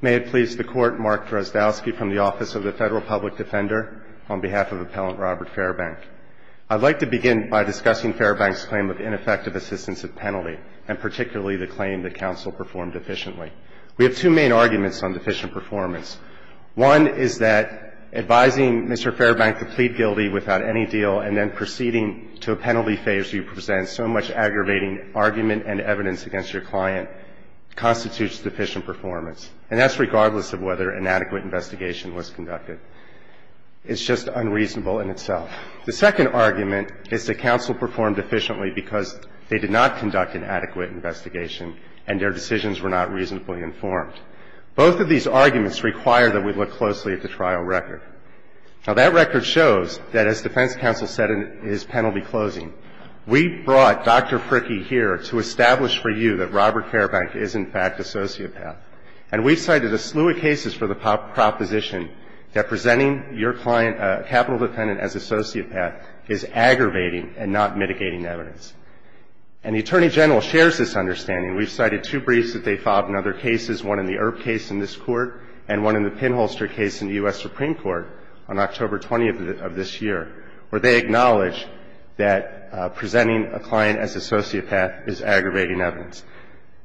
May it please the Court, Mark Drozdowski from the Office of the Federal Public Defender, on behalf of Appellant Robert Fairbank. I'd like to begin by discussing Fairbank's claim of ineffective assistance at penalty, and particularly the claim that counsel performed efficiently. We have two main arguments on deficient performance. One is that advising Mr. Fairbank to plead guilty without any deal and then proceeding to a penalty phase where you present so much aggravating argument and evidence against your client constitutes deficient performance. And that's regardless of whether an adequate investigation was conducted. It's just unreasonable in itself. The second argument is that counsel performed efficiently because they did not conduct an adequate investigation and their decisions were not reasonably informed. Both of these arguments require that we look closely at the trial record. Now, that record shows that, as defense counsel said in his penalty closing, we brought Dr. Pricky here to establish for you that Robert Fairbank is, in fact, a sociopath. And we've cited a slew of cases for the proposition that presenting your client, a capital defendant, as a sociopath is aggravating and not mitigating evidence. And the Attorney General shares this understanding. We've cited two briefs that they filed in other cases, one in the Earp case in this Court and one in the Pinholster case in the U.S. Supreme Court on October 20th of this year, where they acknowledge that presenting a client as a sociopath is aggravating evidence.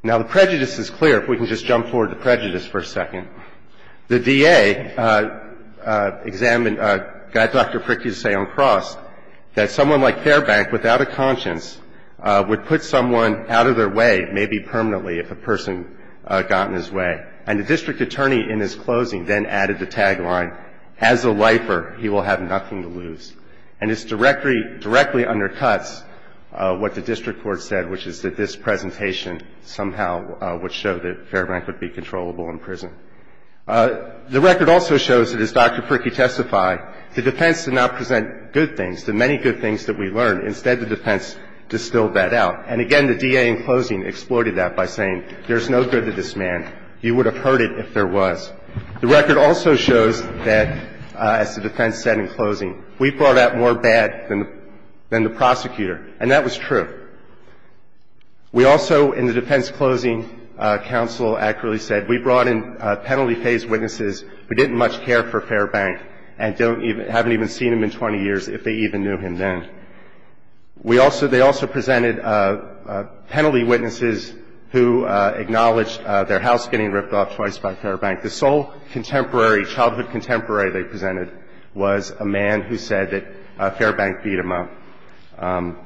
Now, the prejudice is clear, if we can just jump forward to prejudice for a second. The DA examined Dr. Pricky's say on cross that someone like Fairbank without a conscience would put someone out of their way, maybe permanently, if a person got in his way. And the district attorney in his closing then added the tagline, as a lifer, he will have nothing to lose. And this directly undercuts what the district court said, which is that this presentation somehow would show that Fairbank would be controllable in prison. The record also shows that, as Dr. Pricky testified, the defense did not present good things, the many good things that we learned. Instead, the defense distilled that out. And again, the DA in closing exploited that by saying, there's no good to this man. He would have hurt it if there was. The record also shows that, as the defense said in closing, we brought out more bad than the prosecutor. And that was true. We also, in the defense closing, counsel accurately said, we brought in penalty phase witnesses who didn't much care for Fairbank and haven't even seen him in 20 years, if they even knew him then. We also, they also presented penalty witnesses who acknowledged their house getting ripped off twice by Fairbank. The sole contemporary, childhood contemporary they presented was a man who said that Fairbank beat him up.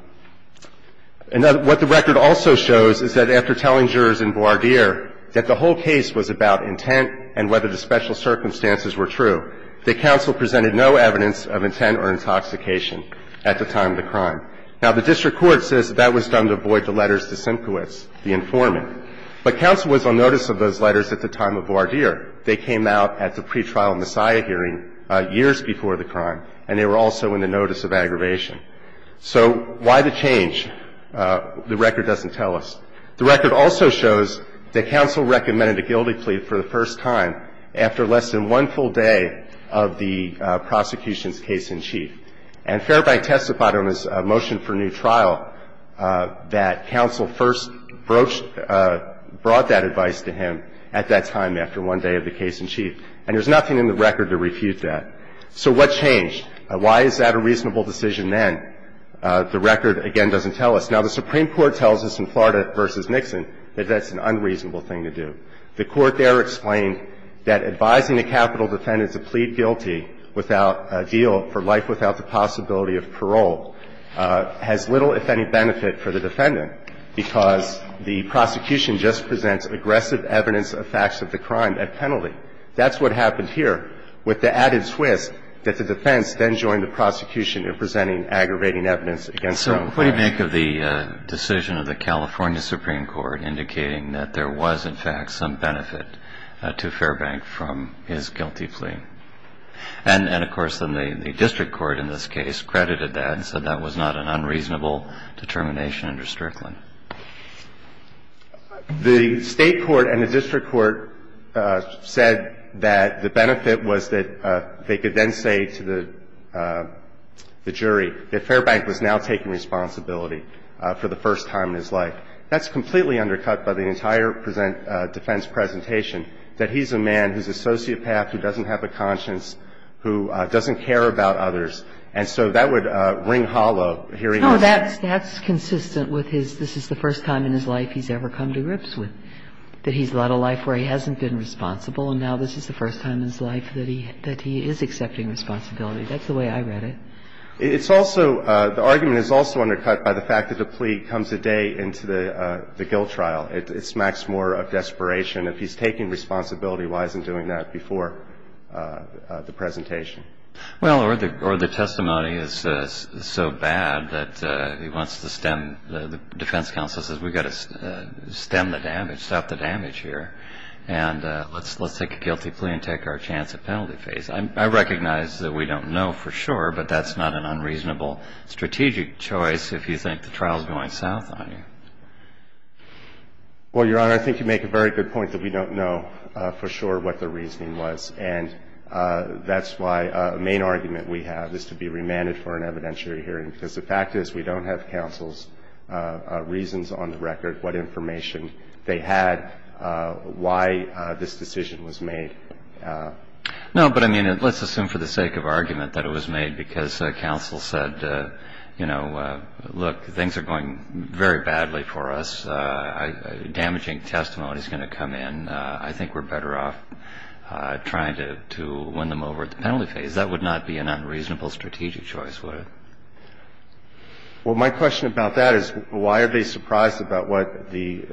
And what the record also shows is that after telling jurors in voir dire that the whole case was about intent and whether the special Now, the district court says that that was done to avoid the letters to Simkowitz, the informant. But counsel was on notice of those letters at the time of voir dire. They came out at the pretrial messiah hearing years before the crime, and they were also in the notice of aggravation. So why the change, the record doesn't tell us. The record also shows that counsel recommended a guilty plea for the first time after less than one full day of the prosecution's case in chief. And Fairbank testified on his motion for new trial that counsel first brought that advice to him at that time after one day of the case in chief. And there's nothing in the record to refute that. So what changed? Why is that a reasonable decision then? The record, again, doesn't tell us. Now, the Supreme Court tells us in Florida v. Nixon that that's an unreasonable thing to do. The court there explained that advising a capital defendant to plead guilty without a deal for life without the possibility of parole has little, if any, benefit for the defendant, because the prosecution just presents aggressive evidence of facts of the crime at penalty. That's what happened here with the added twist that the defense then joined the prosecution What do you make of the decision of the California Supreme Court indicating that there was, in fact, some benefit to Fairbank from his guilty plea? And, of course, then the district court in this case credited that and said that was not an unreasonable determination under Strickland. The state court and the district court said that the benefit was that they could then say to the jury that Fairbank was now taking responsibility for the first time in his life. That's completely undercut by the entire defense presentation, that he's a man who's a sociopath, who doesn't have a conscience, who doesn't care about others. And so that would ring hollow hearing this. No, that's consistent with his this is the first time in his life he's ever come to grips with, that he's led a life where he hasn't been responsible and now this is the first time in his life that he is accepting responsibility. That's the way I read it. It's also, the argument is also undercut by the fact that the plea comes a day into the guilt trial. It smacks more of desperation. If he's taking responsibility, why isn't he doing that before the presentation? Well, or the testimony is so bad that he wants to stem, the defense counsel says we've got to stem the damage, stop the damage here, and let's take a guilty plea and take our chance at penalty phase. I recognize that we don't know for sure, but that's not an unreasonable strategic choice if you think the trial is going south on you. Well, Your Honor, I think you make a very good point that we don't know for sure what the reasoning was. And that's why the main argument we have is to be remanded for an evidentiary hearing, because the fact is we don't have counsel's reasons on the record, what information they had, why this decision was made. No, but I mean, let's assume for the sake of argument that it was made because counsel said, you know, look, things are going very badly for us. Damaging testimony is going to come in. I think we're better off trying to win them over at the penalty phase. That would not be an unreasonable strategic choice, would it? Well, my question about that is why are they surprised about what the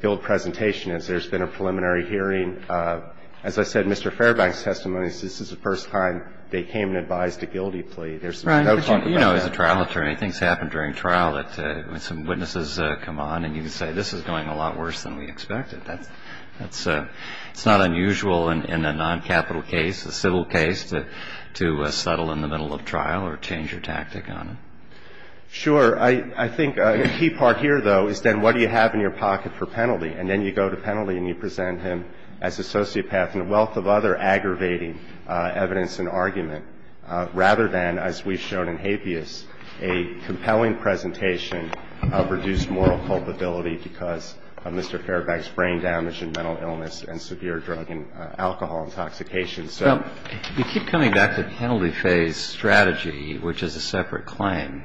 guilt presentation is? There's been a preliminary hearing. As I said, Mr. Fairbank's testimony says this is the first time they came and advised a guilty plea. There's no talk about that. Right. But, you know, as a trial attorney, things happen during trial that some witnesses come on and you can say this is going a lot worse than we expected. That's not unusual in a noncapital case, a civil case, to settle in the middle of trial or change your tactic on it. Sure. I think a key part here, though, is then what do you have in your pocket for penalty? And then you go to penalty and you present him as a sociopath and a wealth of other aggravating evidence and argument rather than, as we've shown in habeas, a compelling presentation of reduced moral culpability because of Mr. Fairbank's brain damage and mental illness and severe drug and alcohol intoxication. Well, you keep coming back to penalty phase strategy, which is a separate claim.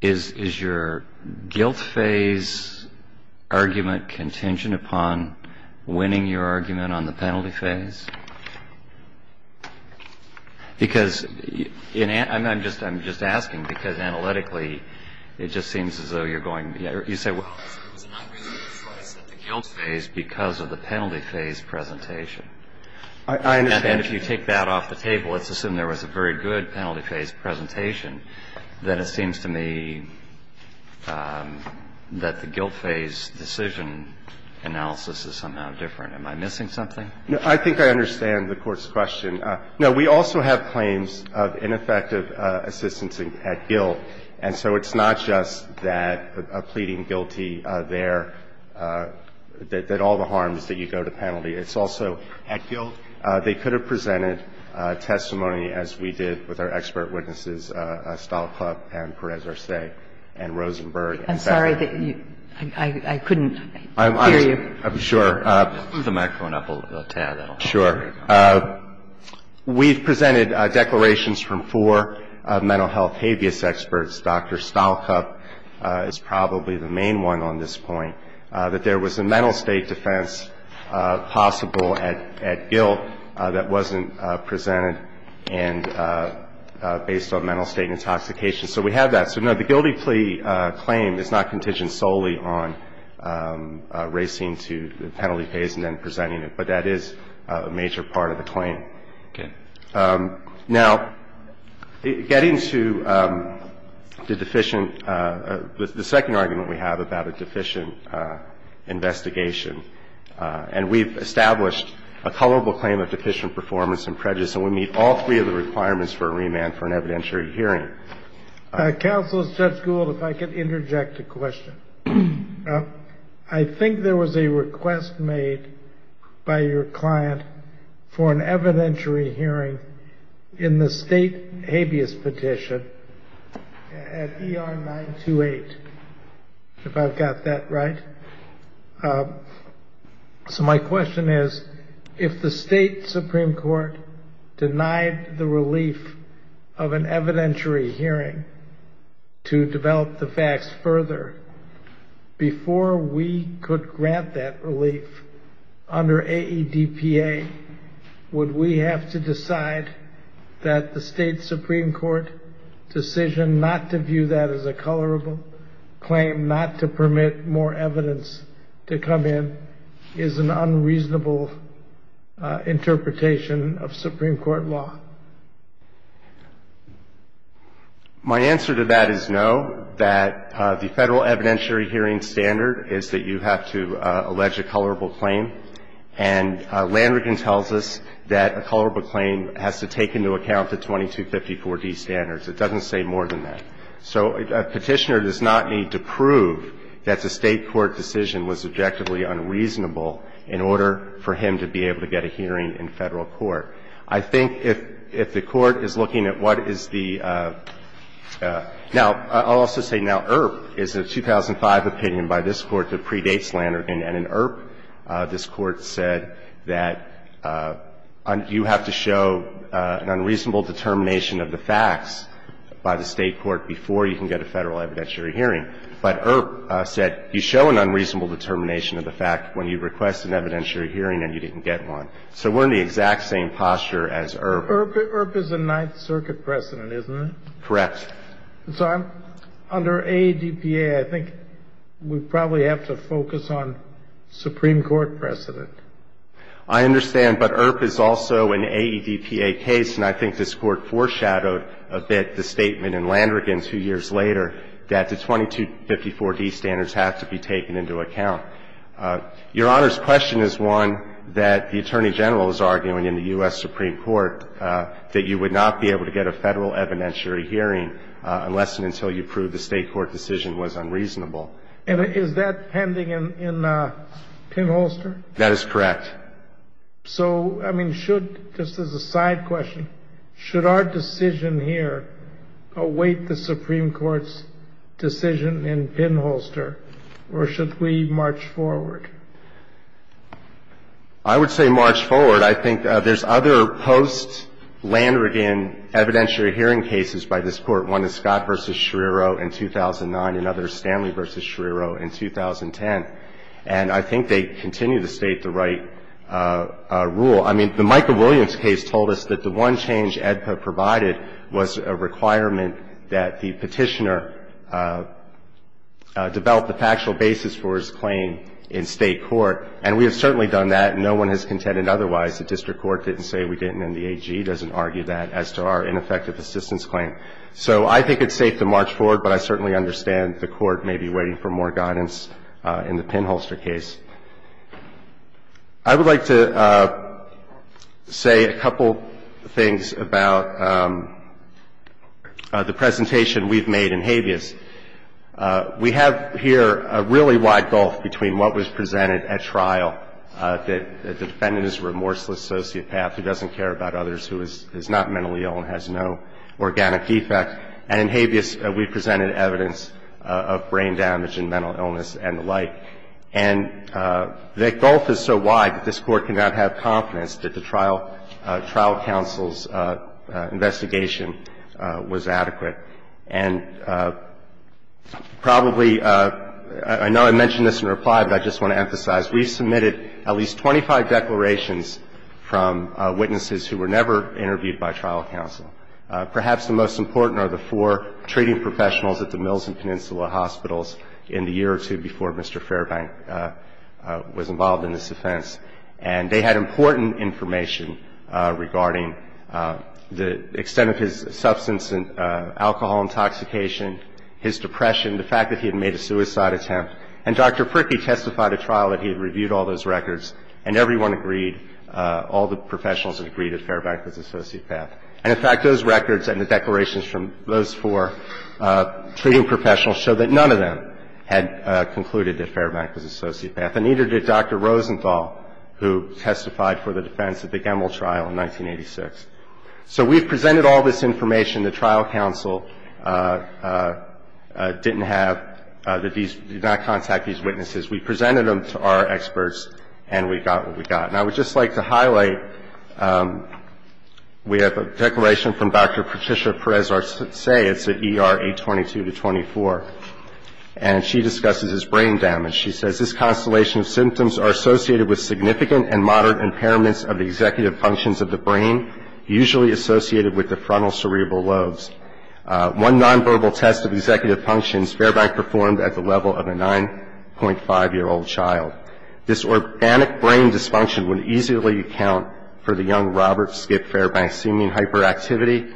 Is your guilt phase argument contingent upon winning your argument on the penalty phase? Because I'm just asking because analytically it just seems as though you're going to say, well, it was an unreasonable choice at the guilt phase because of the penalty phase presentation. I understand. And if you take that off the table, let's assume there was a very good penalty phase presentation, then it seems to me that the guilt phase decision analysis is somehow different. Am I missing something? I think I understand the Court's question. No. We also have claims of ineffective assistance at guilt. And so it's not just that a pleading guilty there, that all the harm is that you go to penalty. It's also at guilt. They could have presented testimony as we did with our expert witnesses, Estelle Klupp and Perez-Arce and Rosenberg. I'm sorry. I couldn't hear you. I'm sure. Move the microphone up a tad. Sure. We've presented declarations from four mental health habeas experts. Dr. Stalkup is probably the main one on this point. That there was a mental state defense possible at guilt that wasn't presented and based on mental state intoxication. So we have that. So, no, the guilty plea claim is not contingent solely on racing to penalty phase and then presenting it. But that is a major part of the claim. Okay. Now, getting to the deficient, the second argument we have about a deficient investigation, and we've established a culpable claim of deficient performance and prejudice, and we meet all three of the requirements for a remand for an evidentiary hearing. Counsel, Judge Gould, if I could interject a question. I think there was a request made by your client for an evidentiary hearing in the state habeas petition at ER 928, if I've got that right. So my question is, if the state Supreme Court denied the relief of an evidentiary hearing to develop the facts further, before we could grant that relief under AEDPA, would we have to decide that the state Supreme Court decision not to view that as a culpable claim, not to permit more evidence to come in, is an My answer to that is no, that the Federal evidentiary hearing standard is that you have to allege a culpable claim, and Landrigan tells us that a culpable claim has to take into account the 2254d standards. It doesn't say more than that. So a Petitioner does not need to prove that the state court decision was objectively unreasonable in order for him to be able to get a hearing in Federal court. I think if the Court is looking at what is the – now, I'll also say now IRP is a 2005 opinion by this Court that predates Landrigan, and in IRP, this Court said that you have to show an unreasonable determination of the facts by the state court before you can get a Federal evidentiary hearing. But IRP said you show an unreasonable determination of the fact when you request an evidentiary hearing and you didn't get one. So we're in the exact same posture as IRP. IRP is a Ninth Circuit precedent, isn't it? Correct. So under AEDPA, I think we probably have to focus on Supreme Court precedent. I understand. But IRP is also an AEDPA case, and I think this Court foreshadowed a bit the statement in Landrigan two years later that the 2254d standards have to be taken into account. Your Honor's question is one that the Attorney General is arguing in the U.S. Supreme Court, that you would not be able to get a Federal evidentiary hearing unless and until you prove the state court decision was unreasonable. And is that pending in Pinholster? That is correct. So, I mean, should – just as a side question – should our decision here await the I would say march forward. I think there's other post-Landrigan evidentiary hearing cases by this Court, one is Scott v. Schrierow in 2009, another is Stanley v. Schrierow in 2010. And I think they continue to state the right rule. I mean, the Micah Williams case told us that the one change AEDPA provided was a requirement that the petitioner develop the factual basis for his claim in state court. And we have certainly done that, and no one has contended otherwise. The district court didn't say we didn't, and the AG doesn't argue that as to our ineffective assistance claim. So I think it's safe to march forward, but I certainly understand the Court may be waiting for more guidance in the Pinholster case. I would like to say a couple things about the presentation we've made in habeas. We have here a really wide gulf between what was presented at trial, that the defendant is a remorseless sociopath who doesn't care about others, who is not mentally ill and has no organic defect. And in habeas, we presented evidence of brain damage and mental illness and the like. And the gulf is so wide that this Court cannot have confidence that the trial counsel's investigation was adequate. And probably, I know I mentioned this in reply, but I just want to emphasize, we submitted at least 25 declarations from witnesses who were never interviewed by trial counsel. Perhaps the most important are the four treating professionals at the Mills and Peninsula Hospitals in the year or two before Mr. Fairbank was involved in this offense. And they had important information regarding the extent of his substance and alcohol intoxication, his depression, the fact that he had made a suicide attempt. And Dr. Pricky testified at trial that he had reviewed all those records, and everyone agreed, all the professionals agreed that Fairbank was a sociopath. And, in fact, those records and the declarations from those four treating professionals show that none of them had concluded that Fairbank was a sociopath. And neither did Dr. Rosenthal, who testified for the defense at the Gemmel trial in 1986. So we've presented all this information. The trial counsel didn't have, did not contact these witnesses. We presented them to our experts, and we got what we got. And I would just like to highlight, we have a declaration from Dr. Patricia Perez-Arce. It's an ERA 22-24. And she discusses his brain damage. She says, This constellation of symptoms are associated with significant and moderate impairments of the executive functions of the brain, usually associated with the frontal cerebral lobes. One nonverbal test of executive functions, Fairbank performed at the level of a 9.5-year-old child. This organic brain dysfunction would easily account for the young Robert Skip Fairbank's seeming hyperactivity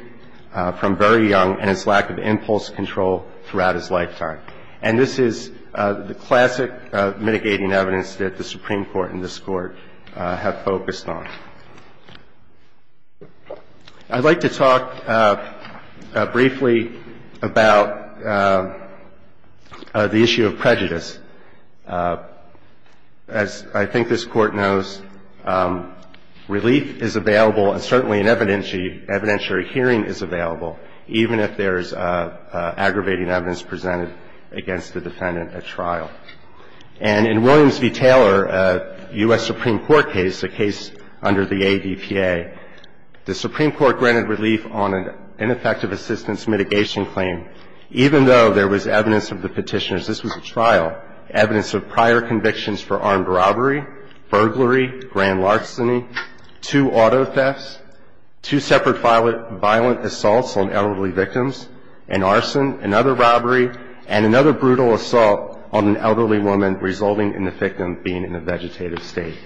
from very young and his lack of impulse control throughout his lifetime. And this is the classic mitigating evidence that the Supreme Court and this Court have focused on. I'd like to talk briefly about the issue of prejudice. As I think this Court knows, relief is available, and certainly an evidentiary hearing is available, even if there's aggravating evidence presented against the defendant at trial. And in Williams v. Taylor, a U.S. Supreme Court case, a case under the ADPA, the Supreme Court granted relief on an ineffective assistance mitigation claim, even though there was evidence of the Petitioner's. This was a trial, evidence of prior convictions for armed robbery, burglary, grand larceny, two auto thefts, two separate violent assaults on elderly victims, an arson, another robbery, and another brutal assault on an elderly woman, resulting in the victim being in a vegetative state.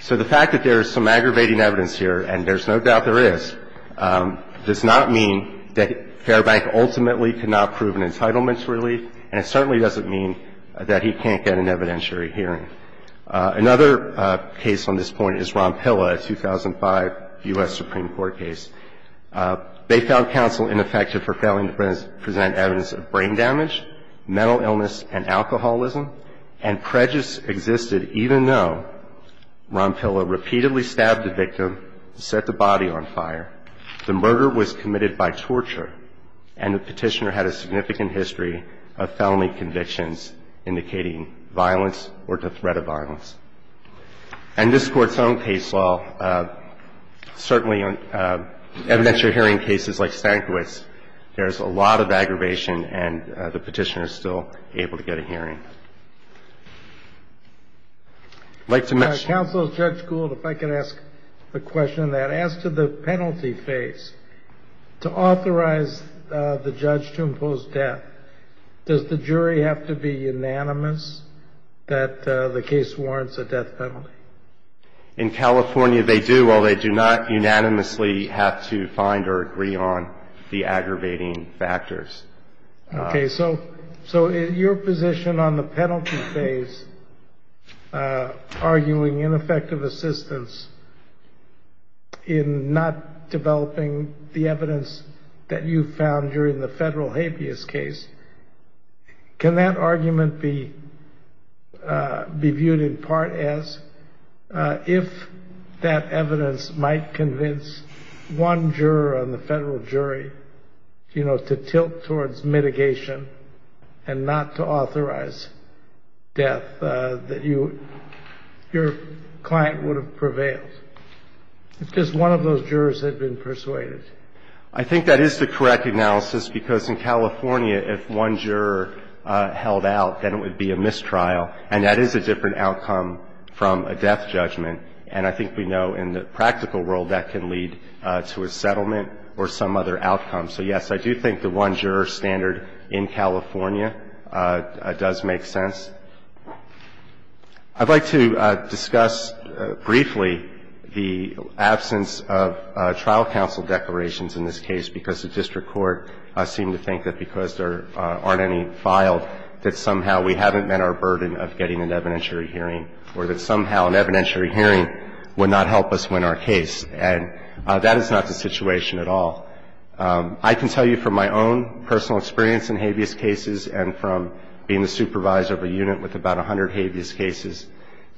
So the fact that there is some aggravating evidence here, and there's no doubt there is, does not mean that Fairbank ultimately could not prove an entitlement to relief, and it certainly doesn't mean that he can't get an evidentiary hearing. Another case on this point is Ronpilla, a 2005 U.S. Supreme Court case. They found counsel ineffective for failing to present evidence of brain damage, mental illness, and alcoholism, and prejudice existed even though Ronpilla repeatedly stabbed the victim to set the body on fire. The murder was committed by torture, and the Petitioner had a significant history of felony convictions indicating violence or the threat of violence. And this Court's own case, while certainly evidentiary hearing cases like Stankiewicz, there is a lot of aggravation, and the Petitioner is still able to get a hearing. I'd like to mention – Counsel, Judge Gould, if I could ask a question on that. As to the penalty phase, to authorize the judge to impose death, does the jury have to be unanimous that the case warrants a death penalty? In California, they do, although they do not unanimously have to find or agree on the aggravating factors. Okay, so your position on the penalty phase, arguing ineffective assistance in not developing the evidence that you found during the federal habeas case, can that argument be viewed in part as if that evidence might convince one juror on the federal jury to tilt towards mitigation and not to authorize death that your client would have prevailed, if just one of those jurors had been persuaded? I think that is the correct analysis, because in California, if one juror held out, then it would be a mistrial, and that is a different outcome from a death judgment. And I think we know in the practical world that can lead to a settlement or some other outcome. So, yes, I do think the one juror standard in California does make sense. I'd like to discuss briefly the absence of trial counsel declarations in this case, because the district court seemed to think that because there aren't any filed, that somehow we haven't met our burden of getting an evidentiary hearing or that somehow an evidentiary hearing would not help us win our case. And that is not the situation at all. I can tell you from my own personal experience in habeas cases and from being the supervisor of a unit with about 100 habeas cases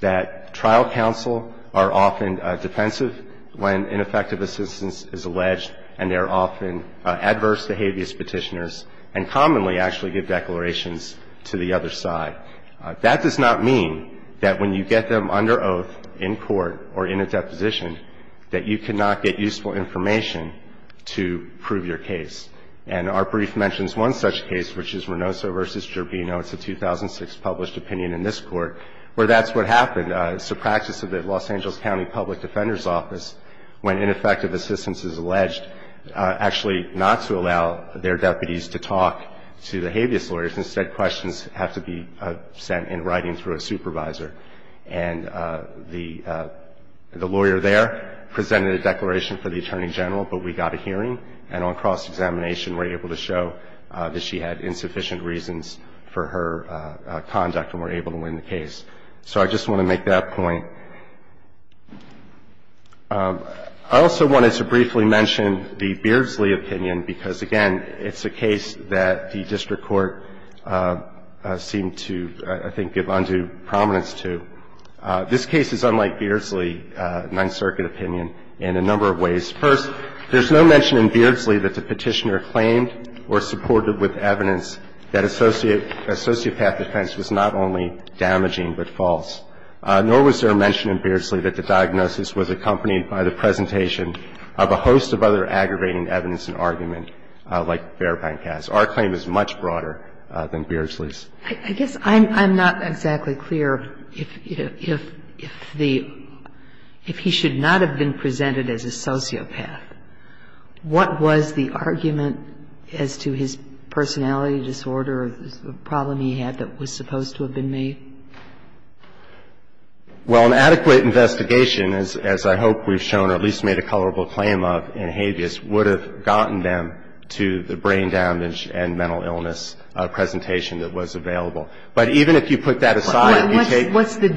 that trial counsel are often defensive when ineffective assistance is alleged, and they're often adverse to habeas Petitioners and commonly actually give declarations to the other side. That does not mean that when you get them under oath in court or in a deposition that you cannot get useful information to prove your case. And our brief mentions one such case, which is Renoso v. Gervino. It's a 2006 published opinion in this Court where that's what happened. It's the practice of the Los Angeles County Public Defender's Office when ineffective assistance is alleged, actually not to allow their deputies to talk to the habeas lawyers. Instead, questions have to be sent in writing through a supervisor. And the lawyer there presented a declaration for the Attorney General, but we got a hearing, and on cross-examination were able to show that she had insufficient reasons for her conduct and were able to win the case. So I just want to make that point. I also wanted to briefly mention the Beardsley opinion because, again, it's a case that the district court seemed to, I think, give undue prominence to. This case is unlike Beardsley, a Ninth Circuit opinion, in a number of ways. First, there's no mention in Beardsley that the Petitioner claimed or supported with evidence that associate path defense was not only damaging but false, nor was there a mention in Beardsley that the diagnosis was accompanied by the presentation of a host of other aggravating evidence and argument, like Fairbank has. Our claim is much broader than Beardsley's. I guess I'm not exactly clear if the – if he should not have been presented as a sociopath, what was the argument as to his personality disorder, the problem he had that was supposed to have been made? Well, an adequate investigation, as I hope we've shown or at least made a colorable claim of in Habeas, would have gotten them to the brain damage and mental illness presentation that was available. But even if you put that aside and you take – What's the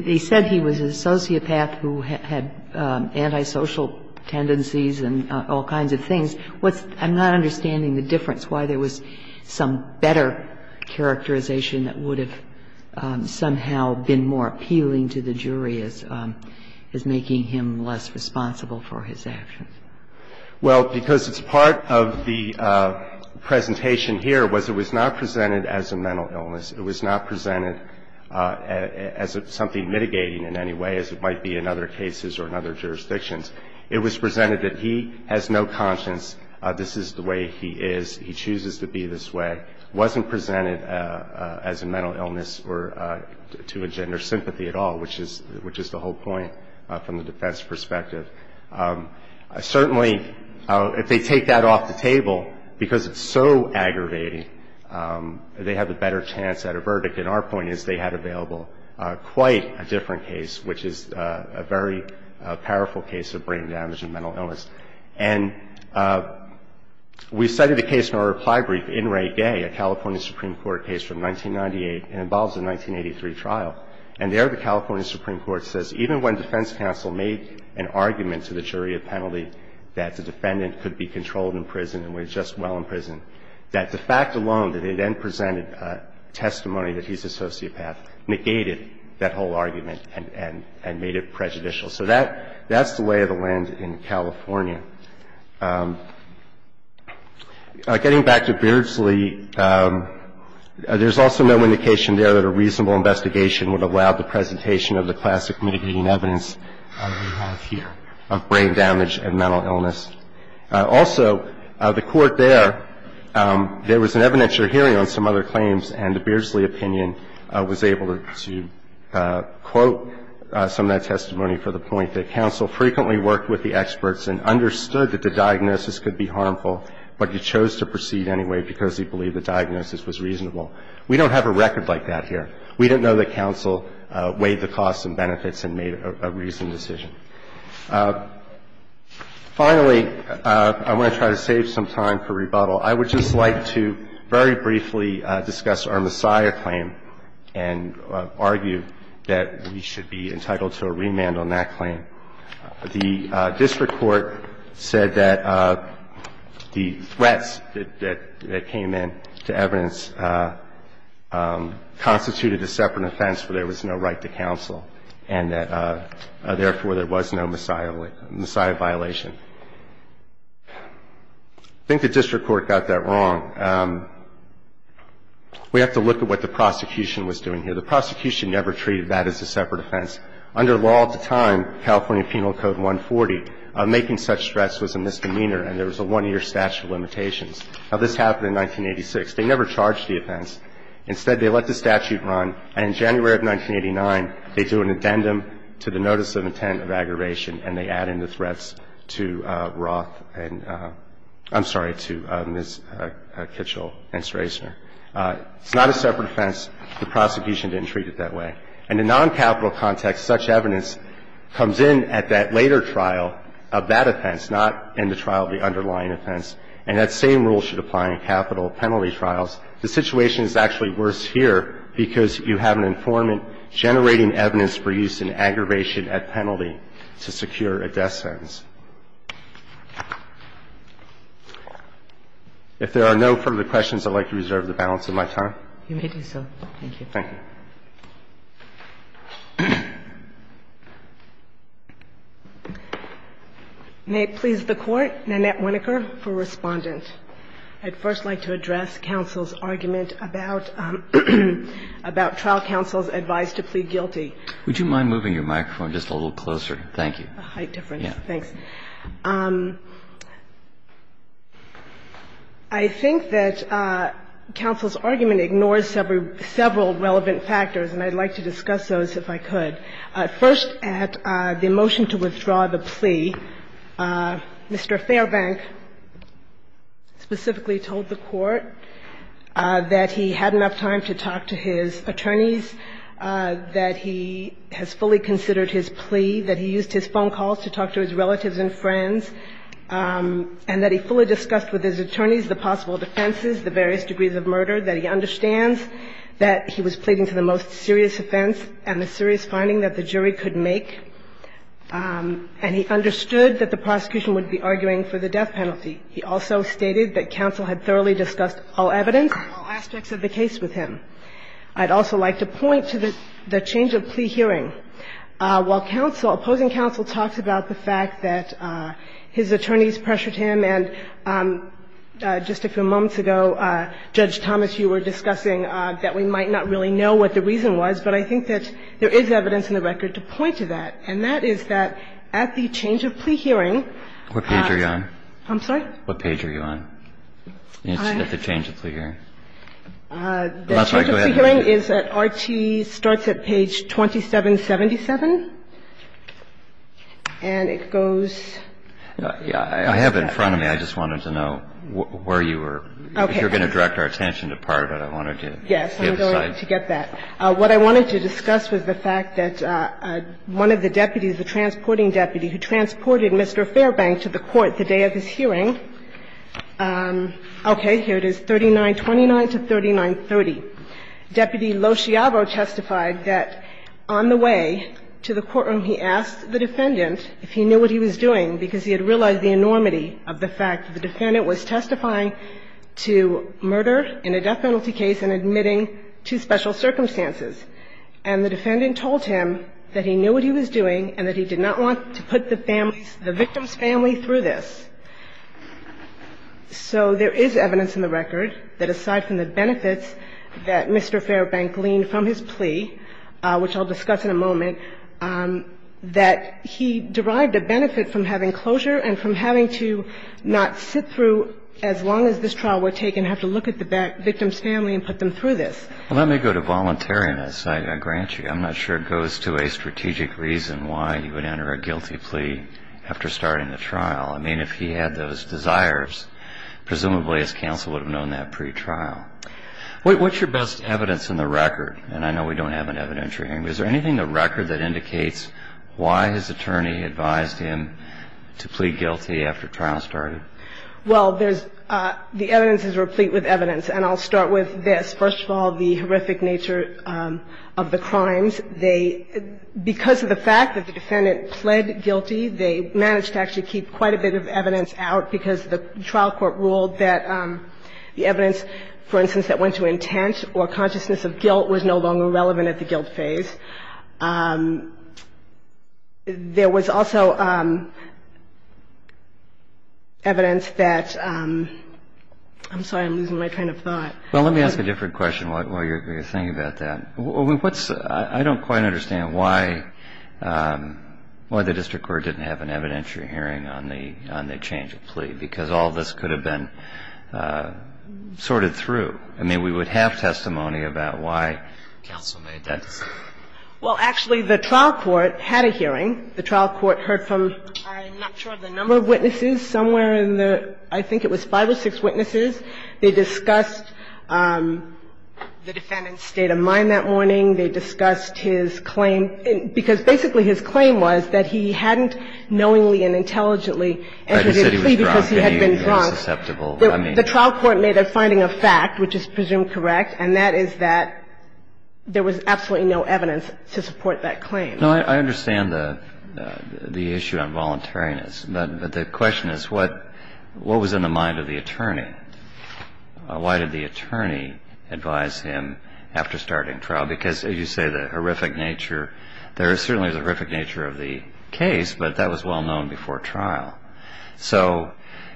– they said he was an sociopath who had antisocial tendencies and all kinds of things. What's – I'm not understanding the difference, why there was some better characterization that would have somehow been more appealing to the jury as making him less responsible for his actions. Well, because it's part of the presentation here was it was not presented as a mental illness. It was not presented as something mitigating in any way as it might be in other cases or in other jurisdictions. It was presented that he has no conscience, this is the way he is, he chooses to be this way. It wasn't presented as a mental illness or to a gender sympathy at all, which is the whole point from the defense perspective. Certainly, if they take that off the table, because it's so aggravating, they have a better chance at a verdict. And our point is they had available quite a different case, which is a very powerful case of brain damage and mental illness. And we cited a case in our reply brief in Ray Gay, a California Supreme Court case from 1998. It involves a 1983 trial. And there the California Supreme Court says even when defense counsel made an argument to the jury of penalty that the defendant could be controlled in prison and was just well in prison, that the fact alone that they then presented a testimony that he's a sociopath negated that whole argument and made it prejudicial. So that's the lay of the land in California. Getting back to Beardsley, there's also no indication there that a reasonable investigation would allow the presentation of the classic mitigating evidence we have here of brain damage and mental illness. Also, the Court there, there was an evidentiary hearing on some other claims, and the Beardsley opinion was able to quote some of that testimony for the point that counsel frequently worked with the experts and understood that the diagnosis could be harmful, but he chose to proceed anyway because he believed the diagnosis was reasonable. We don't have a record like that here. We don't know that counsel weighed the costs and benefits and made a reasoned decision. Finally, I want to try to save some time for rebuttal. I would just like to very briefly discuss our Messiah claim and argue that we should be entitled to a remand on that claim. The district court said that the threats that came in to evidence constituted a separate offense where there was no right to counsel and that, therefore, there was no Messiah violation. I think the district court got that wrong. We have to look at what the prosecution was doing here. The prosecution never treated that as a separate offense. Under law at the time, California Penal Code 140, making such threats was a misdemeanor and there was a one-year statute of limitations. Now, this happened in 1986. They never charged the offense. Instead, they let the statute run, and in January of 1989, they do an addendum to the notice of intent of aggravation, and they add in the threats to Roth and – I'm sorry, to Ms. Kitchell and Strasner. It's not a separate offense. The prosecution didn't treat it that way. And in noncapital context, such evidence comes in at that later trial of that offense, not in the trial of the underlying offense. And that same rule should apply in capital penalty trials. The situation is actually worse here because you have an informant generating evidence for use in aggravation at penalty to secure a death sentence. If there are no further questions, I'd like to reserve the balance of my time. You may do so. Thank you. Thank you. May it please the Court, Nanette Winokur for Respondent. I'd first like to address counsel's argument about – about trial counsel's advice to plead guilty. Would you mind moving your microphone just a little closer? Thank you. A height difference. Yeah. Thanks. I think that counsel's argument ignores several relevant factors, and I'd like to discuss those if I could. First, at the motion to withdraw the plea, Mr. Fairbank specifically told the Court that he had enough time to talk to his attorneys, that he has fully considered his plea, that he used his phone calls to talk to his relatives and friends, and that he fully discussed with his attorneys the possible defenses, the various serious offense and the serious finding that the jury could make, and he understood that the prosecution would be arguing for the death penalty. He also stated that counsel had thoroughly discussed all evidence and all aspects of the case with him. I'd also like to point to the change of plea hearing. While counsel – opposing counsel talks about the fact that his attorneys pressured him, and just a few moments ago, Judge Thomas, you were discussing that we might not really know what the reason was, but I think that there is evidence in the record to point to that, and that is that at the change of plea hearing – What page are you on? I'm sorry? What page are you on? At the change of plea hearing. That's right. Go ahead. The change of plea hearing is that RT starts at page 2777, and it goes – Yeah. I have it in front of me. I just wanted to know where you were. Okay. I thought you were going to direct our attention to part of it. I wanted to get a side. Yes, I'm going to get that. What I wanted to discuss was the fact that one of the deputies, the transporting deputy, who transported Mr. Fairbank to the court the day of his hearing – okay, here it is, 3929 to 3930. Deputy Loschiavo testified that on the way to the courtroom, he asked the defendant if he knew what he was doing, because he had realized the enormity of the fact that the defendant was testifying to murder in a death penalty case and admitting to special circumstances. And the defendant told him that he knew what he was doing and that he did not want to put the victim's family through this. So there is evidence in the record that aside from the benefits that Mr. Fairbank gleaned from his plea, which I'll discuss in a moment, that he derived a benefit from having closure and from having to not sit through as long as this trial were taken, have to look at the victim's family and put them through this. Well, let me go to voluntariness, I grant you. I'm not sure it goes to a strategic reason why he would enter a guilty plea after starting the trial. I mean, if he had those desires, presumably his counsel would have known that pretrial. What's your best evidence in the record? And I know we don't have an evidentiary hearing, but is there anything in the record that indicates why his attorney advised him to plead guilty after trial started? Well, there's the evidence is replete with evidence. And I'll start with this. First of all, the horrific nature of the crimes. They, because of the fact that the defendant pled guilty, they managed to actually keep quite a bit of evidence out because the trial court ruled that the evidence, for instance, that went to intent or consciousness of guilt was no longer relevant at the guilt phase. There was also evidence that, I'm sorry, I'm losing my train of thought. Well, let me ask a different question while you're thinking about that. What's, I don't quite understand why the district court didn't have an evidentiary hearing on the change of plea, because all this could have been sorted through. I mean, we would have testimony about why counsel made that decision. Well, actually, the trial court had a hearing. The trial court heard from, I'm not sure of the number of witnesses, somewhere in the, I think it was five or six witnesses. They discussed the defendant's state of mind that morning. They discussed his claim, because basically his claim was that he hadn't knowingly and intelligently entered into a plea because he had been drunk. He said he was drunk and he was susceptible. The trial court made a finding of fact, which is presumed correct, and that is that there was absolutely no evidence to support that claim. No, I understand the issue on voluntariness, but the question is what was in the mind of the attorney? Why did the attorney advise him after starting trial? Because, as you say, the horrific nature, there certainly is a horrific nature of the case, but that was well known before trial. So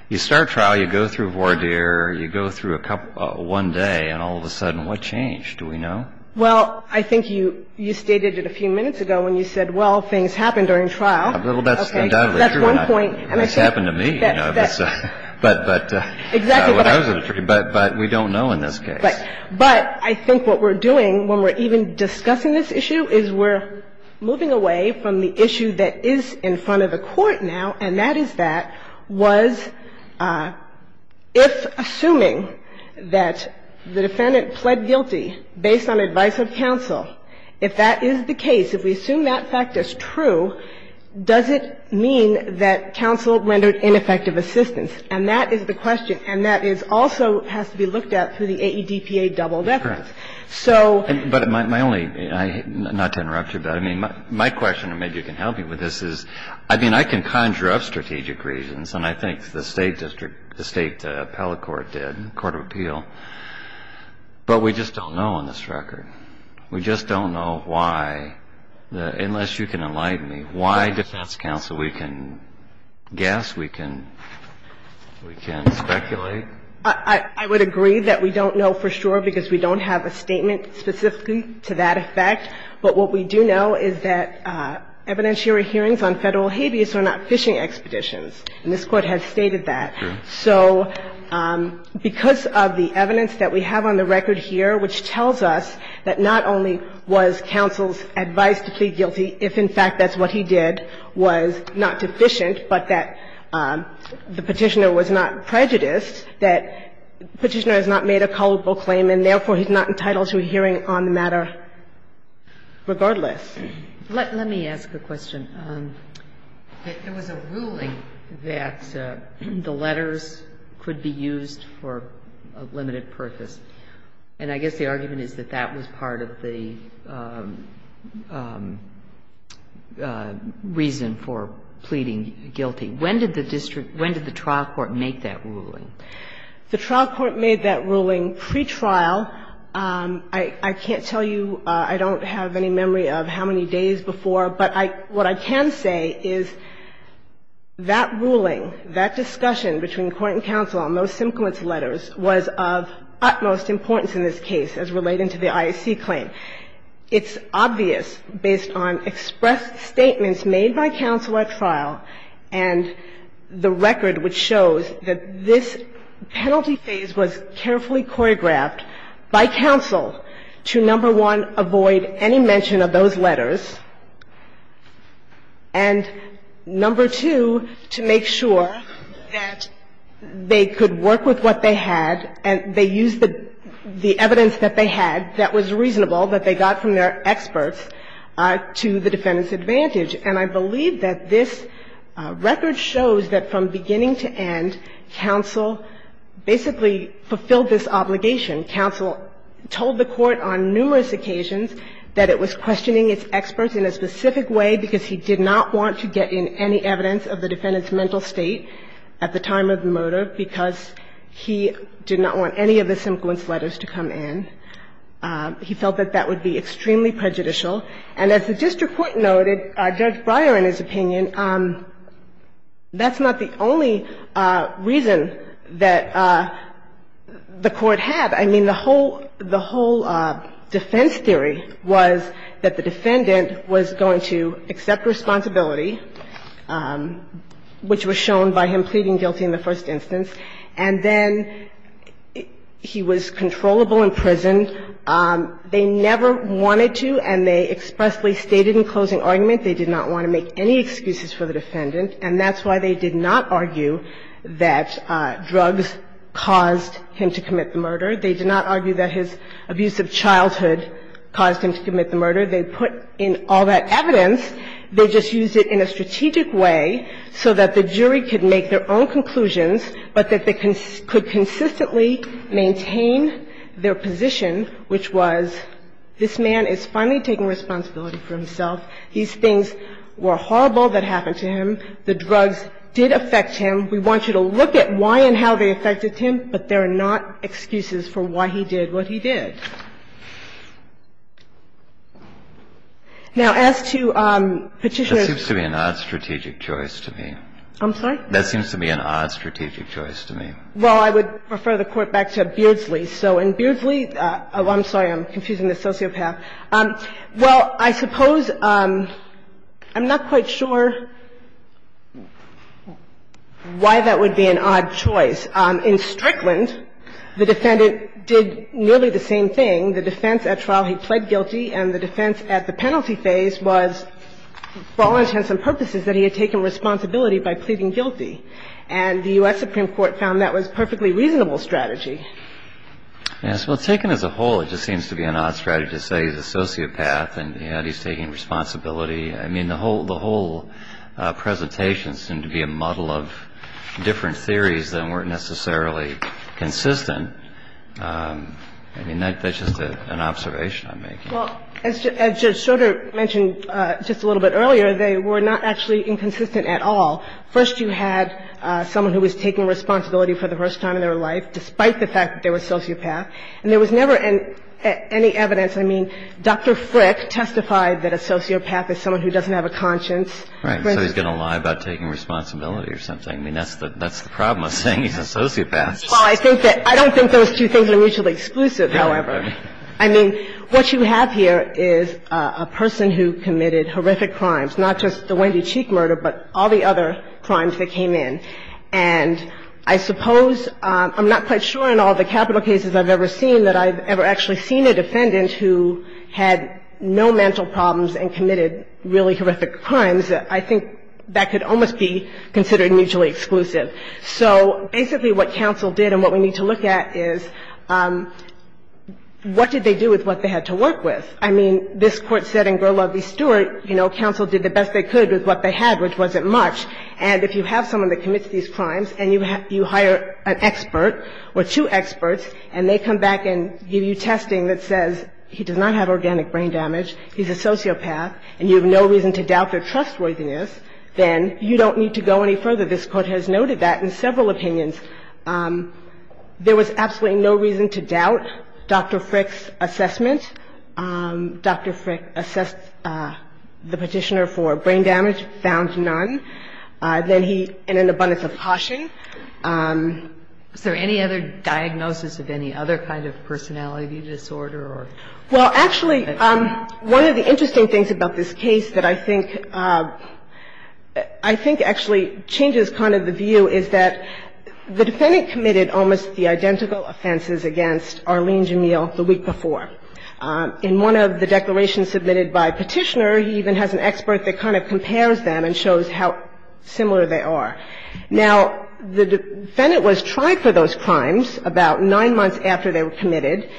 you start trial, you go through voir dire, you go through one day, and all of a sudden, what changed? Do we know? Well, I think you stated it a few minutes ago when you said, well, things happen during trial. Well, that's undoubtedly true. That's one point. That's happened to me, you know. Exactly. But we don't know in this case. Right. But I think what we're doing when we're even discussing this issue is we're moving away from the issue that is in front of the Court now, and that is that was, if assuming that the defendant pled guilty based on advice of counsel, if that is the case, if we assume that fact is true, does it mean that counsel rendered ineffective assistance? And that is the question, and that is also has to be looked at through the AEDPA doubled effort. So my only, not to interrupt you, but I mean, my question is, if we assume that rendered ineffective assistance? And my question, and maybe you can help me with this, is, I mean, I can conjure up strategic reasons, and I think the State District, the State Appellate Court did, Court of Appeal, but we just don't know on this record. We just don't know why, unless you can enlighten me, why defense counsel, we can guess, we can speculate. I would agree that we don't know for sure because we don't have a statement specifically to that effect, but what we do know is that evidentiary hearings on Federal habeas are not fishing expeditions, and this Court has stated that. So because of the evidence that we have on the record here, which tells us that not only was counsel's advice to plead guilty, if in fact that's what he did, was not prejudiced, that Petitioner has not made a culpable claim, and therefore, he's not entitled to a hearing on the matter regardless. Let me ask a question. There was a ruling that the letters could be used for a limited purpose, and I guess the argument is that that was part of the reason for pleading guilty. When did the district – when did the trial court make that ruling? The trial court made that ruling pre-trial. I can't tell you – I don't have any memory of how many days before, but what I can say is that ruling, that discussion between court and counsel on those simplest letters was of utmost importance in this case as related to the IAC claim. It's obvious based on expressed statements made by counsel at trial and the record which shows that this penalty phase was carefully choreographed by counsel to, number one, avoid any mention of those letters, and, number two, to make sure that they could work with what they had, and they used the evidence that they had that was reasonable, that they got from their experts, to the defendant's advantage. And I believe that this record shows that from beginning to end, counsel basically fulfilled this obligation. Counsel told the Court on numerous occasions that it was questioning its experts in a specific way because he did not want to get in any evidence of the defendant's mental state at the time of the murder because he did not want any of the simplest letters to come in. He felt that that would be extremely prejudicial. And as the district court noted, Judge Breyer, in his opinion, that's not the only reason that the Court had. I mean, the whole defense theory was that the defendant was going to accept responsibility, which was shown by him pleading guilty in the first instance, and then he was controllable in prison. They never wanted to, and they expressly stated in closing argument they did not want to make any excuses for the defendant, and that's why they did not argue that drugs caused him to commit the murder. They did not argue that his abusive childhood caused him to commit the murder. They put in all that evidence. They just used it in a strategic way so that the jury could make their own conclusions, but that they could consistently maintain their position, which was this man is finally taking responsibility for himself. These things were horrible that happened to him. The drugs did affect him. We want you to look at why and how they affected him, but there are not excuses for why he did what he did. Now, as to Petitioner's ---- Kennedy, that seems to be an odd strategic choice to me. I'm sorry? That seems to be an odd strategic choice to me. Well, I would refer the Court back to Beardsley. So in Beardsley ---- I'm sorry, I'm confusing the sociopath. Well, I suppose ---- I'm not quite sure why that would be an odd choice. In Strickland, the defendant did nearly the same thing. The defense at trial, he pled guilty, and the defense at the penalty phase was, for all intents and purposes, that he had taken responsibility by pleading guilty. And the U.S. Supreme Court found that was a perfectly reasonable strategy. Yes. Well, taken as a whole, it just seems to be an odd strategy to say he's a sociopath and, you know, he's taking responsibility. I mean, the whole ---- the whole presentations seem to be a muddle of different theories that weren't necessarily consistent. I mean, that's just an observation I'm making. Well, as Judge Schroder mentioned just a little bit earlier, they were not actually inconsistent at all. First, you had someone who was taking responsibility for the first time in their life, despite the fact that they were a sociopath, and there was never any evidence ---- I mean, Dr. Frick testified that a sociopath is someone who doesn't have a conscience. Right. So he's going to lie about taking responsibility or something. I mean, that's the problem with saying he's a sociopath. Well, I think that ---- I don't think those two things are mutually exclusive, however. I mean, what you have here is a person who committed horrific crimes, not just the Wendy Cheek murder, but all the other crimes that came in. And I suppose ---- I'm not quite sure in all the capital cases I've ever seen that I've ever actually seen a defendant who had no mental problems and committed really horrific crimes. I think that could almost be considered mutually exclusive. So basically what counsel did and what we need to look at is what did they do with what they had to work with? I mean, this Court said in Gurlavi-Stewart, you know, counsel did the best they could with what they had, which wasn't much. And if you have someone that commits these crimes and you hire an expert or two experts and they come back and give you testing that says he does not have organic brain damage, he's a sociopath, and you have no reason to doubt their trustworthiness, then you don't need to go any further. This Court has noted that in several opinions. There was absolutely no reason to doubt Dr. Frick's assessment. Dr. Frick assessed the Petitioner for brain damage, found none. He found that the Petitioner had a higher degree of personality disorder than he had in an abundance of caution. Is there any other diagnosis of any other kind of personality disorder or? Well, actually, one of the interesting things about this case that I think actually changes kind of the view is that the defendant committed almost the identical or similar they are. Now, the defendant was tried for those crimes about nine months after they were committed.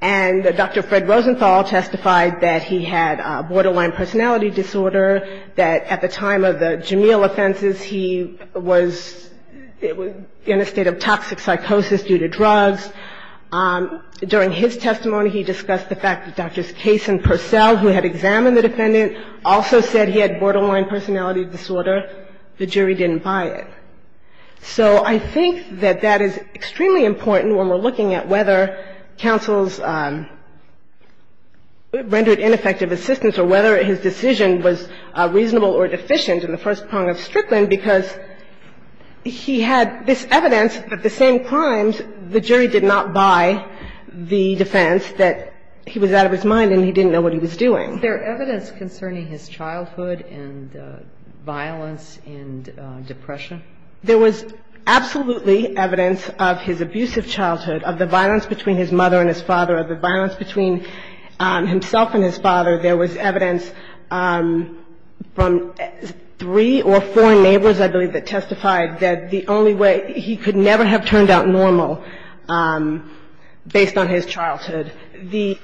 And Dr. Fred Rosenthal testified that he had borderline personality disorder, that at the time of the Jamil offenses, he was in a state of toxic psychosis due to drugs. During his testimony, he discussed the fact that Drs. Case and Purcell, who had examined the defendant, also said he had borderline personality disorder. The jury didn't buy it. So I think that that is extremely important when we're looking at whether counsel's rendered ineffective assistance or whether his decision was reasonable or deficient in the first prong of Strickland, because he had this evidence that the same crimes, the jury did not buy the defense, that he was out of his mind and he didn't know what he was doing. There is evidence concerning his childhood and violence and depression? There was absolutely evidence of his abusive childhood, of the violence between his mother and his father, of the violence between himself and his father. There was evidence from three or four neighbors, I believe, that testified that the only way he could never have turned out normal based on his childhood. The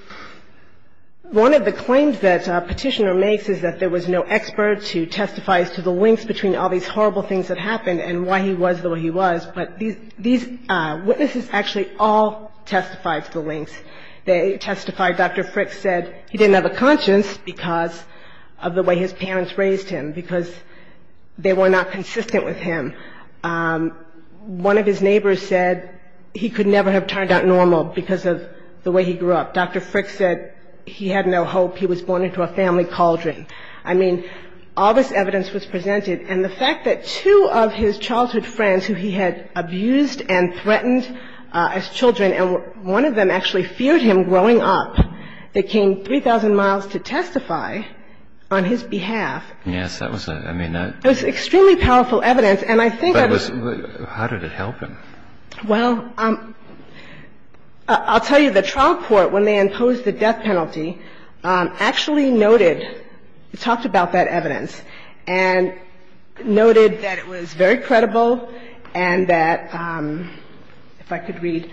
one of the claims that Petitioner makes is that there was no expert to testify as to the links between all these horrible things that happened and why he was the way he was. But these witnesses actually all testified to the links. They testified Dr. Frick said he didn't have a conscience because of the way his parents raised him, because they were not consistent with him. One of his neighbors said he could never have turned out normal because of the way he grew up. Dr. Frick said he had no hope. He was born into a family cauldron. I mean, all this evidence was presented, and the fact that two of his childhood friends who he had abused and threatened as children, and one of them actually feared him growing up, they came 3,000 miles to testify on his behalf. Yes, that was a, I mean, that was extremely powerful evidence. And I think I was How did it help him? Well, I'll tell you, the trial court, when they imposed the death penalty, actually noted, talked about that evidence, and noted that it was very credible and that, if I could read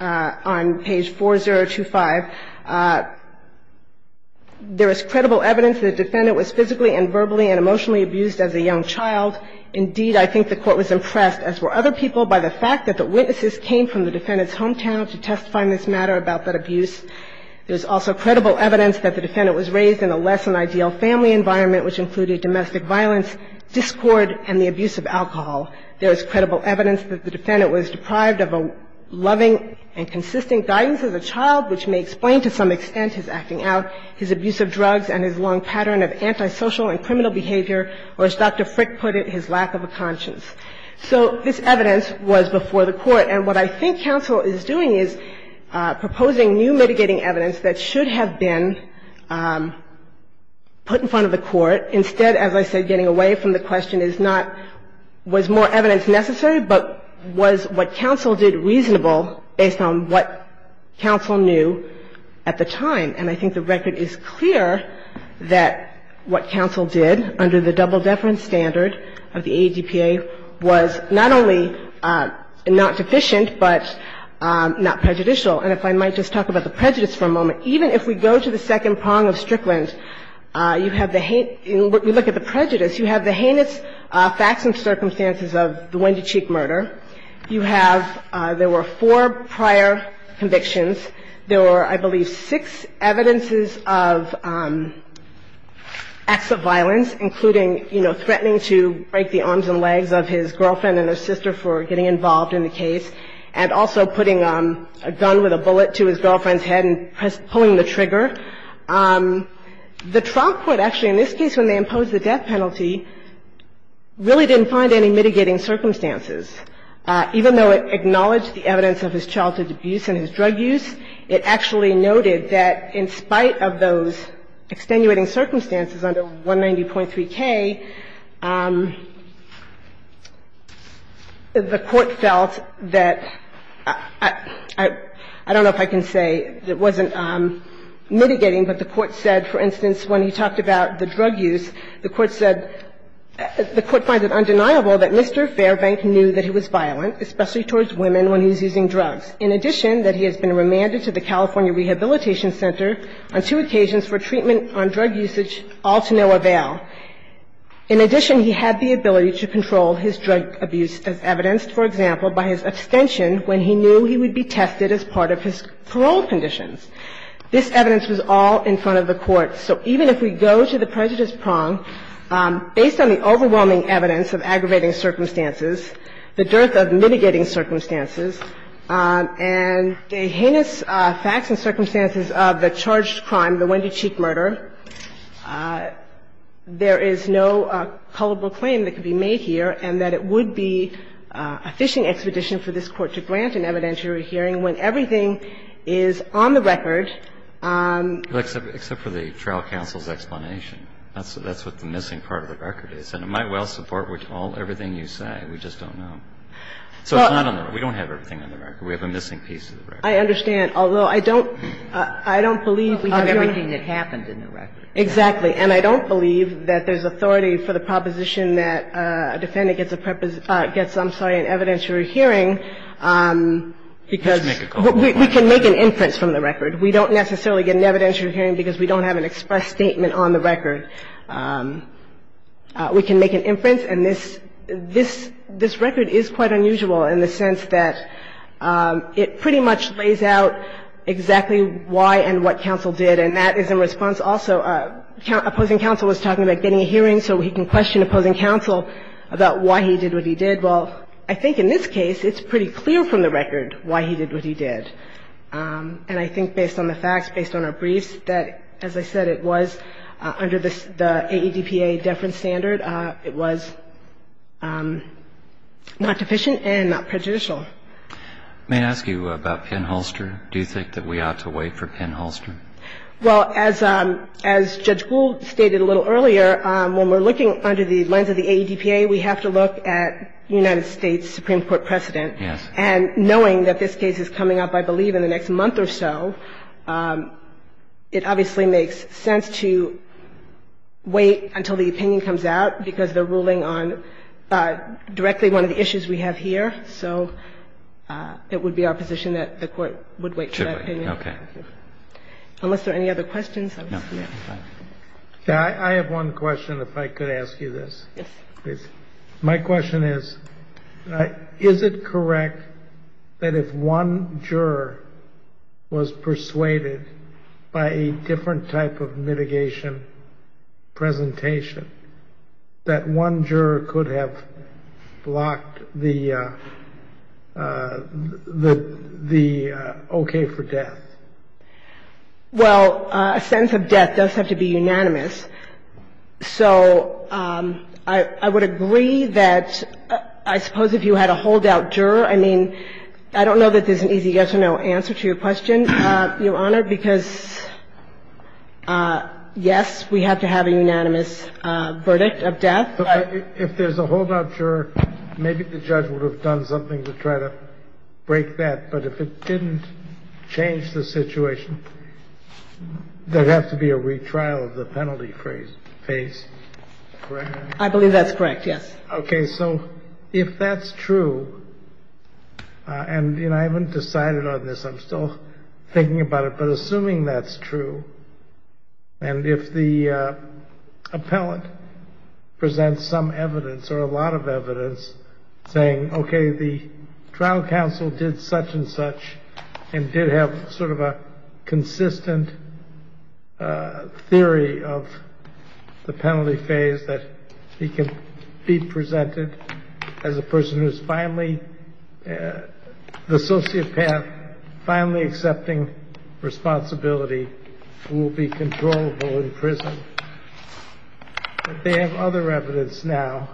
on page 4025, there is credible evidence the defendant was physically and verbally and emotionally abused as a young child. Indeed, I think the court was impressed, as were other people, by the fact that the witnesses came from the defendant's hometown to testify on this matter about that abuse. There's also credible evidence that the defendant was raised in a less-than-ideal family environment, which included domestic violence, discord, and the abuse of alcohol. There is credible evidence that the defendant was deprived of a loving and consistent guidance as a child, which may explain to some extent his acting out, his abuse of drugs, and his long pattern of antisocial and criminal behavior, or as Dr. Frick put it, his lack of a conscience. So this evidence was before the Court. And what I think counsel is doing is proposing new mitigating evidence that should have been put in front of the Court. Instead, as I said, getting away from the question is not, was more evidence necessary, but was what counsel did reasonable based on what counsel knew at the time. And I think the record is clear that what counsel did, under the double-deference standard of the ADPA, was not only not deficient, but not prejudicial. And if I might just talk about the prejudice for a moment. Even if we go to the second prong of Strickland, you have the hate – when we look at the prejudice, you have the heinous facts and circumstances of the Wendy Cheek murder. You have – there were four prior convictions. There were, I believe, six evidences of acts of violence, including, you know, threatening to break the arms and legs of his girlfriend and her sister for getting involved in the case, and also putting a gun with a bullet to his girlfriend's head and pulling the trigger. The trial court, actually, in this case, when they imposed the death penalty, really didn't find any mitigating circumstances. Even though it acknowledged the evidence of his childhood abuse and his drug use, it actually noted that in spite of those extenuating circumstances under 190.3k, the Court felt that – I don't know if I can say it wasn't mitigating, but the Court said, for instance, when he talked about the drug use, the Court said – the Court found it undeniable that Mr. Fairbank knew that he was violent, especially towards women when he was using drugs. In addition, that he has been remanded to the California Rehabilitation Center on two occasions for treatment on drug usage, all to no avail. In addition, he had the ability to control his drug abuse as evidenced, for example, by his abstention when he knew he would be tested as part of his parole conditions. This evidence was all in front of the Court. So even if we go to the prejudice prong, based on the overwhelming evidence of aggravating circumstances, the dearth of mitigating circumstances, and the heinous facts and circumstances of the charged crime, the Wendy Cheek murder, there is no culpable claim that could be made here and that it would be a fishing expedition for this Court to grant an evidentiary hearing when everything is on the record. Except for the trial counsel's explanation. That's what the missing part of the record is. And it might well support all of everything you say. We just don't know. So it's not on the record. We don't have everything on the record. We have a missing piece of the record. I understand. Although I don't – I don't believe we have here – Everything that happens in the record. Exactly. And I don't believe that there's authority for the proposition that a defendant gets a preposition – gets, I'm sorry, an evidentiary hearing because we can make an inference from the record. We don't necessarily get an evidentiary hearing because we don't have an express statement on the record. We can make an inference, and this – this – this record is quite unusual in the sense that it pretty much lays out exactly why and what counsel did, and that is in response also – opposing counsel was talking about getting a hearing so he can question opposing counsel about why he did what he did. Well, I think in this case, it's pretty clear from the record why he did what he did. And I think based on the facts, based on our briefs, that, as I said, it was under the – the AEDPA deference standard, it was not deficient and not prejudicial. May I ask you about Penn-Holster? Do you think that we ought to wait for Penn-Holster? Well, as – as Judge Gould stated a little earlier, when we're looking under the lens of the AEDPA, we have to look at United States Supreme Court precedent. Yes. And knowing that this case is coming up, I believe, in the next month or so, it obviously makes sense to wait until the opinion comes out, because they're ruling on directly one of the issues we have here. So it would be our position that the Court would wait for that opinion. Okay. Unless there are any other questions, I will stop there. No. Okay. I have one question, if I could ask you this. Yes. My question is, is it correct that if one juror was persuaded by a different type of mitigation presentation that one juror could have blocked the – the okay for death? Well, a sense of death does have to be unanimous. So I would agree that I suppose if you had a holdout juror, I mean, I don't know that there's an easy yes or no answer to your question, Your Honor, because, yes, we have to have a unanimous verdict of death. But if there's a holdout juror, maybe the judge would have done something to try to break that. But if it didn't change the situation, there'd have to be a retrial of the penalty phase. Is that correct? I believe that's correct, yes. Okay. So if that's true, and, you know, I haven't decided on this. I'm still thinking about it. But assuming that's true, and if the appellant presents some evidence or a lot of evidence saying, okay, the trial counsel did such and such and did have sort of a the penalty phase that he can be presented as a person who's finally, the sociopath finally accepting responsibility, who will be controllable in prison, that they have other evidence now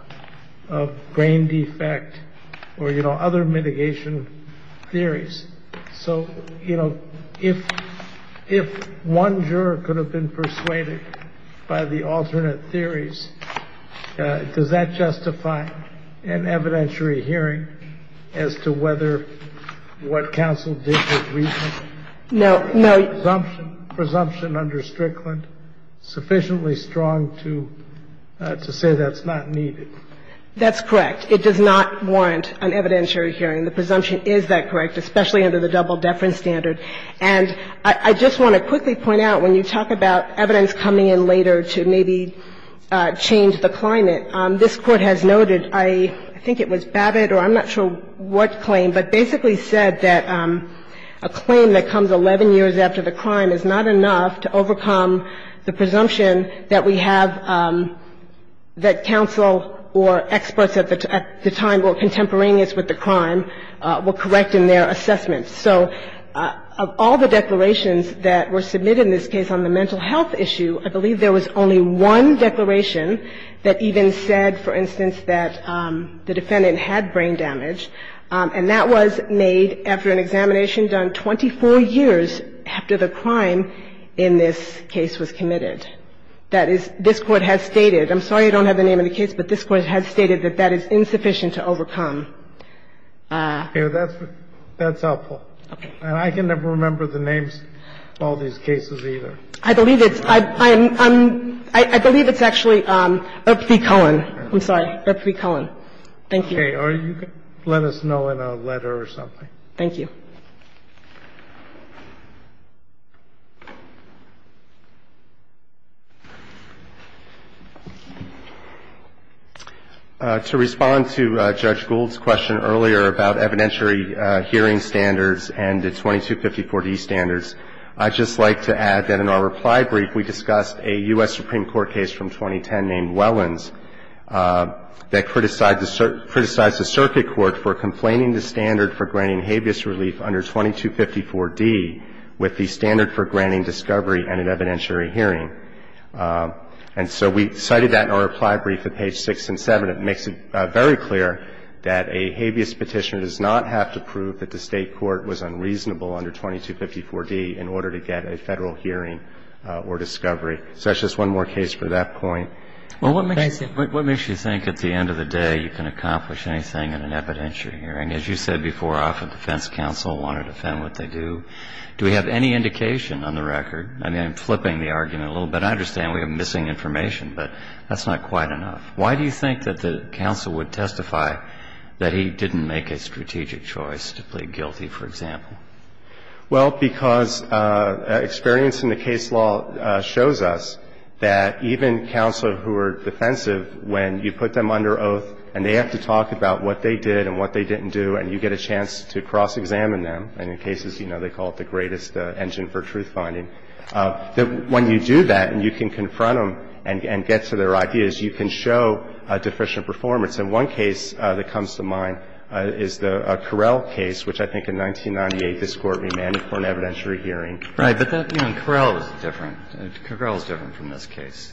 of brain defect or, you know, other mitigation theories. So, you know, if one juror could have been persuaded by the alternate theories, does that justify an evidentiary hearing as to whether what counsel did was reasonable? No. No. Presumption under Strickland sufficiently strong to say that's not needed? That's correct. It does not warrant an evidentiary hearing. The presumption is that correct, especially under the double deference standard. And I just want to quickly point out, when you talk about evidence coming in later to maybe change the climate, this Court has noted, I think it was Babbitt or I'm not sure what claim, but basically said that a claim that comes 11 years after the crime is not enough to overcome the presumption that we have that counsel or experts at the time were contemporaneous with the crime. And so there is no evidence that that claim is not sufficient to overcome the presumption that we have that counsel or experts at the time were correct in their assessments. So of all the declarations that were submitted in this case on the mental health issue, I believe there was only one declaration that even said, for instance, that the defendant had brain damage, and that was made after an examination done 24 years after the crime in this case was committed. That is, this Court has stated. I'm sorry I don't have the name of the case, but this Court has stated that that is insufficient to overcome. That's helpful. Okay. And I can never remember the names of all these cases either. I believe it's actually Rupert Cullen. I'm sorry. Rupert Cullen. Thank you. Okay. Or you can let us know in a letter or something. Thank you. To respond to Judge Gould's question earlier about evidentiary hearing standards and the 2254D standards, I'd just like to add that in our reply brief, we discussed a U.S. Supreme Court case from 2010 named Wellins that criticized the circuit court for complaining the standard for granting habeas relief under 2254D with the standard for granting discovery and an evidentiary hearing. And so we cited that in our reply brief at page 6 and 7. It makes it very clear that a habeas petitioner does not have to prove that the State court was unreasonable under 2254D in order to get a Federal hearing or discovery. So that's just one more case for that point. Well, what makes you think at the end of the day you can accomplish anything in an evidentiary hearing? As you said before, often defense counsel want to defend what they do. Do we have any indication on the record? I mean, I'm flipping the argument a little bit. I understand we have missing information, but that's not quite enough. Why do you think that the counsel would testify that he didn't make a strategic choice to plead guilty, for example? Well, because experience in the case law shows us that even counsel who are defensive when you put them under oath and they have to talk about what they did and what they didn't do and you get a chance to cross-examine them, and in cases, you know, they call it the greatest engine for truth finding, that when you do that and you can confront them and get to their ideas, you can show deficient performance. And one case that comes to mind is the Correll case, which I think in 1998 this Court remanded for an evidentiary hearing. Right. But that, you know, Correll was different. Correll was different from this case,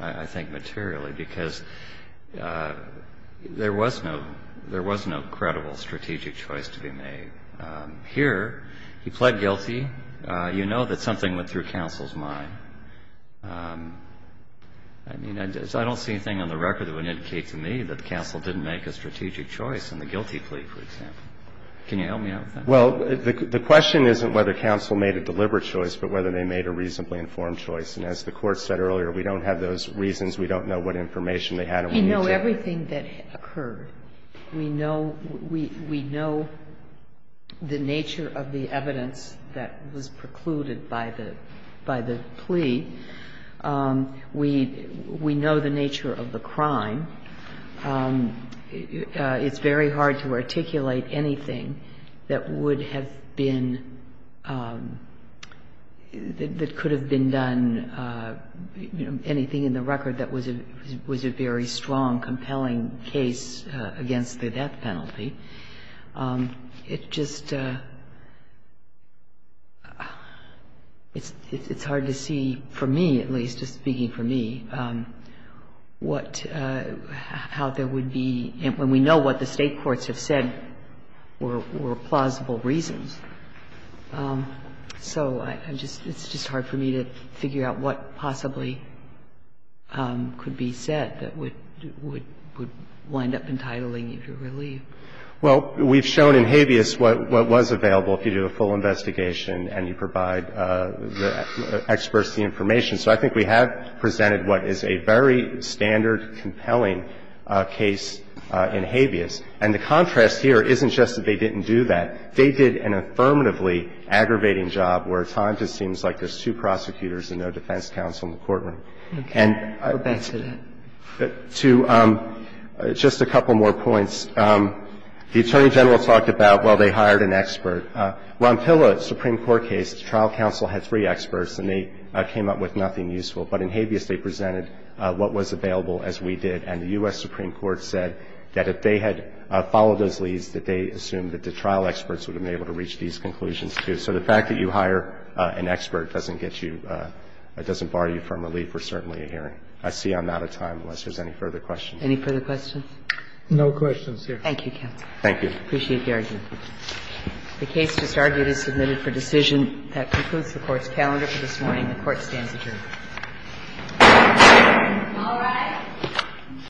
I think, materially, because there was no credible strategic choice to be made. Here, he pled guilty. You know that something went through counsel's mind. I mean, I don't see anything on the record that would indicate to me that counsel didn't make a strategic choice in the guilty plea, for example. Can you help me out with that? Well, the question isn't whether counsel made a deliberate choice, but whether they made a reasonably informed choice. And as the Court said earlier, we don't have those reasons. We don't know what information they had or what nature. We know everything that occurred. We know the nature of the evidence that was precluded by the plea. We know the nature of the crime. It's very hard to articulate anything that would have been, that could have been done, you know, anything in the record that was a very strong, compelling case against the death penalty. It just, it's hard to see, for me at least, just speaking for me, what, how there would be, and we know what the State courts have said were plausible reasons. So I'm just, it's just hard for me to figure out what possibly could be said that would, would wind up entitling you to relief. Well, we've shown in Habeas what was available if you do a full investigation and you provide the experts the information. So I think we have presented what is a very standard, compelling case in Habeas. And the contrast here isn't just that they didn't do that. They did an affirmatively aggravating job where at times it seems like there's two prosecutors and no defense counsel in the courtroom. And to just a couple more points, the Attorney General talked about, well, they hired an expert. Ron Pillow's Supreme Court case, the trial counsel had three experts and they came up with nothing useful. But in Habeas they presented what was available as we did. And the U.S. Supreme Court said that if they had followed those leads, that they would have been able to reach these conclusions, too. So the fact that you hire an expert doesn't get you, doesn't bar you from relief or certainly a hearing. I see I'm out of time unless there's any further questions. Any further questions? No questions, Your Honor. Thank you, counsel. Thank you. I appreciate the argument. The case just argued is submitted for decision. That concludes the Court's calendar for this morning. The Court stands adjourned. All rise.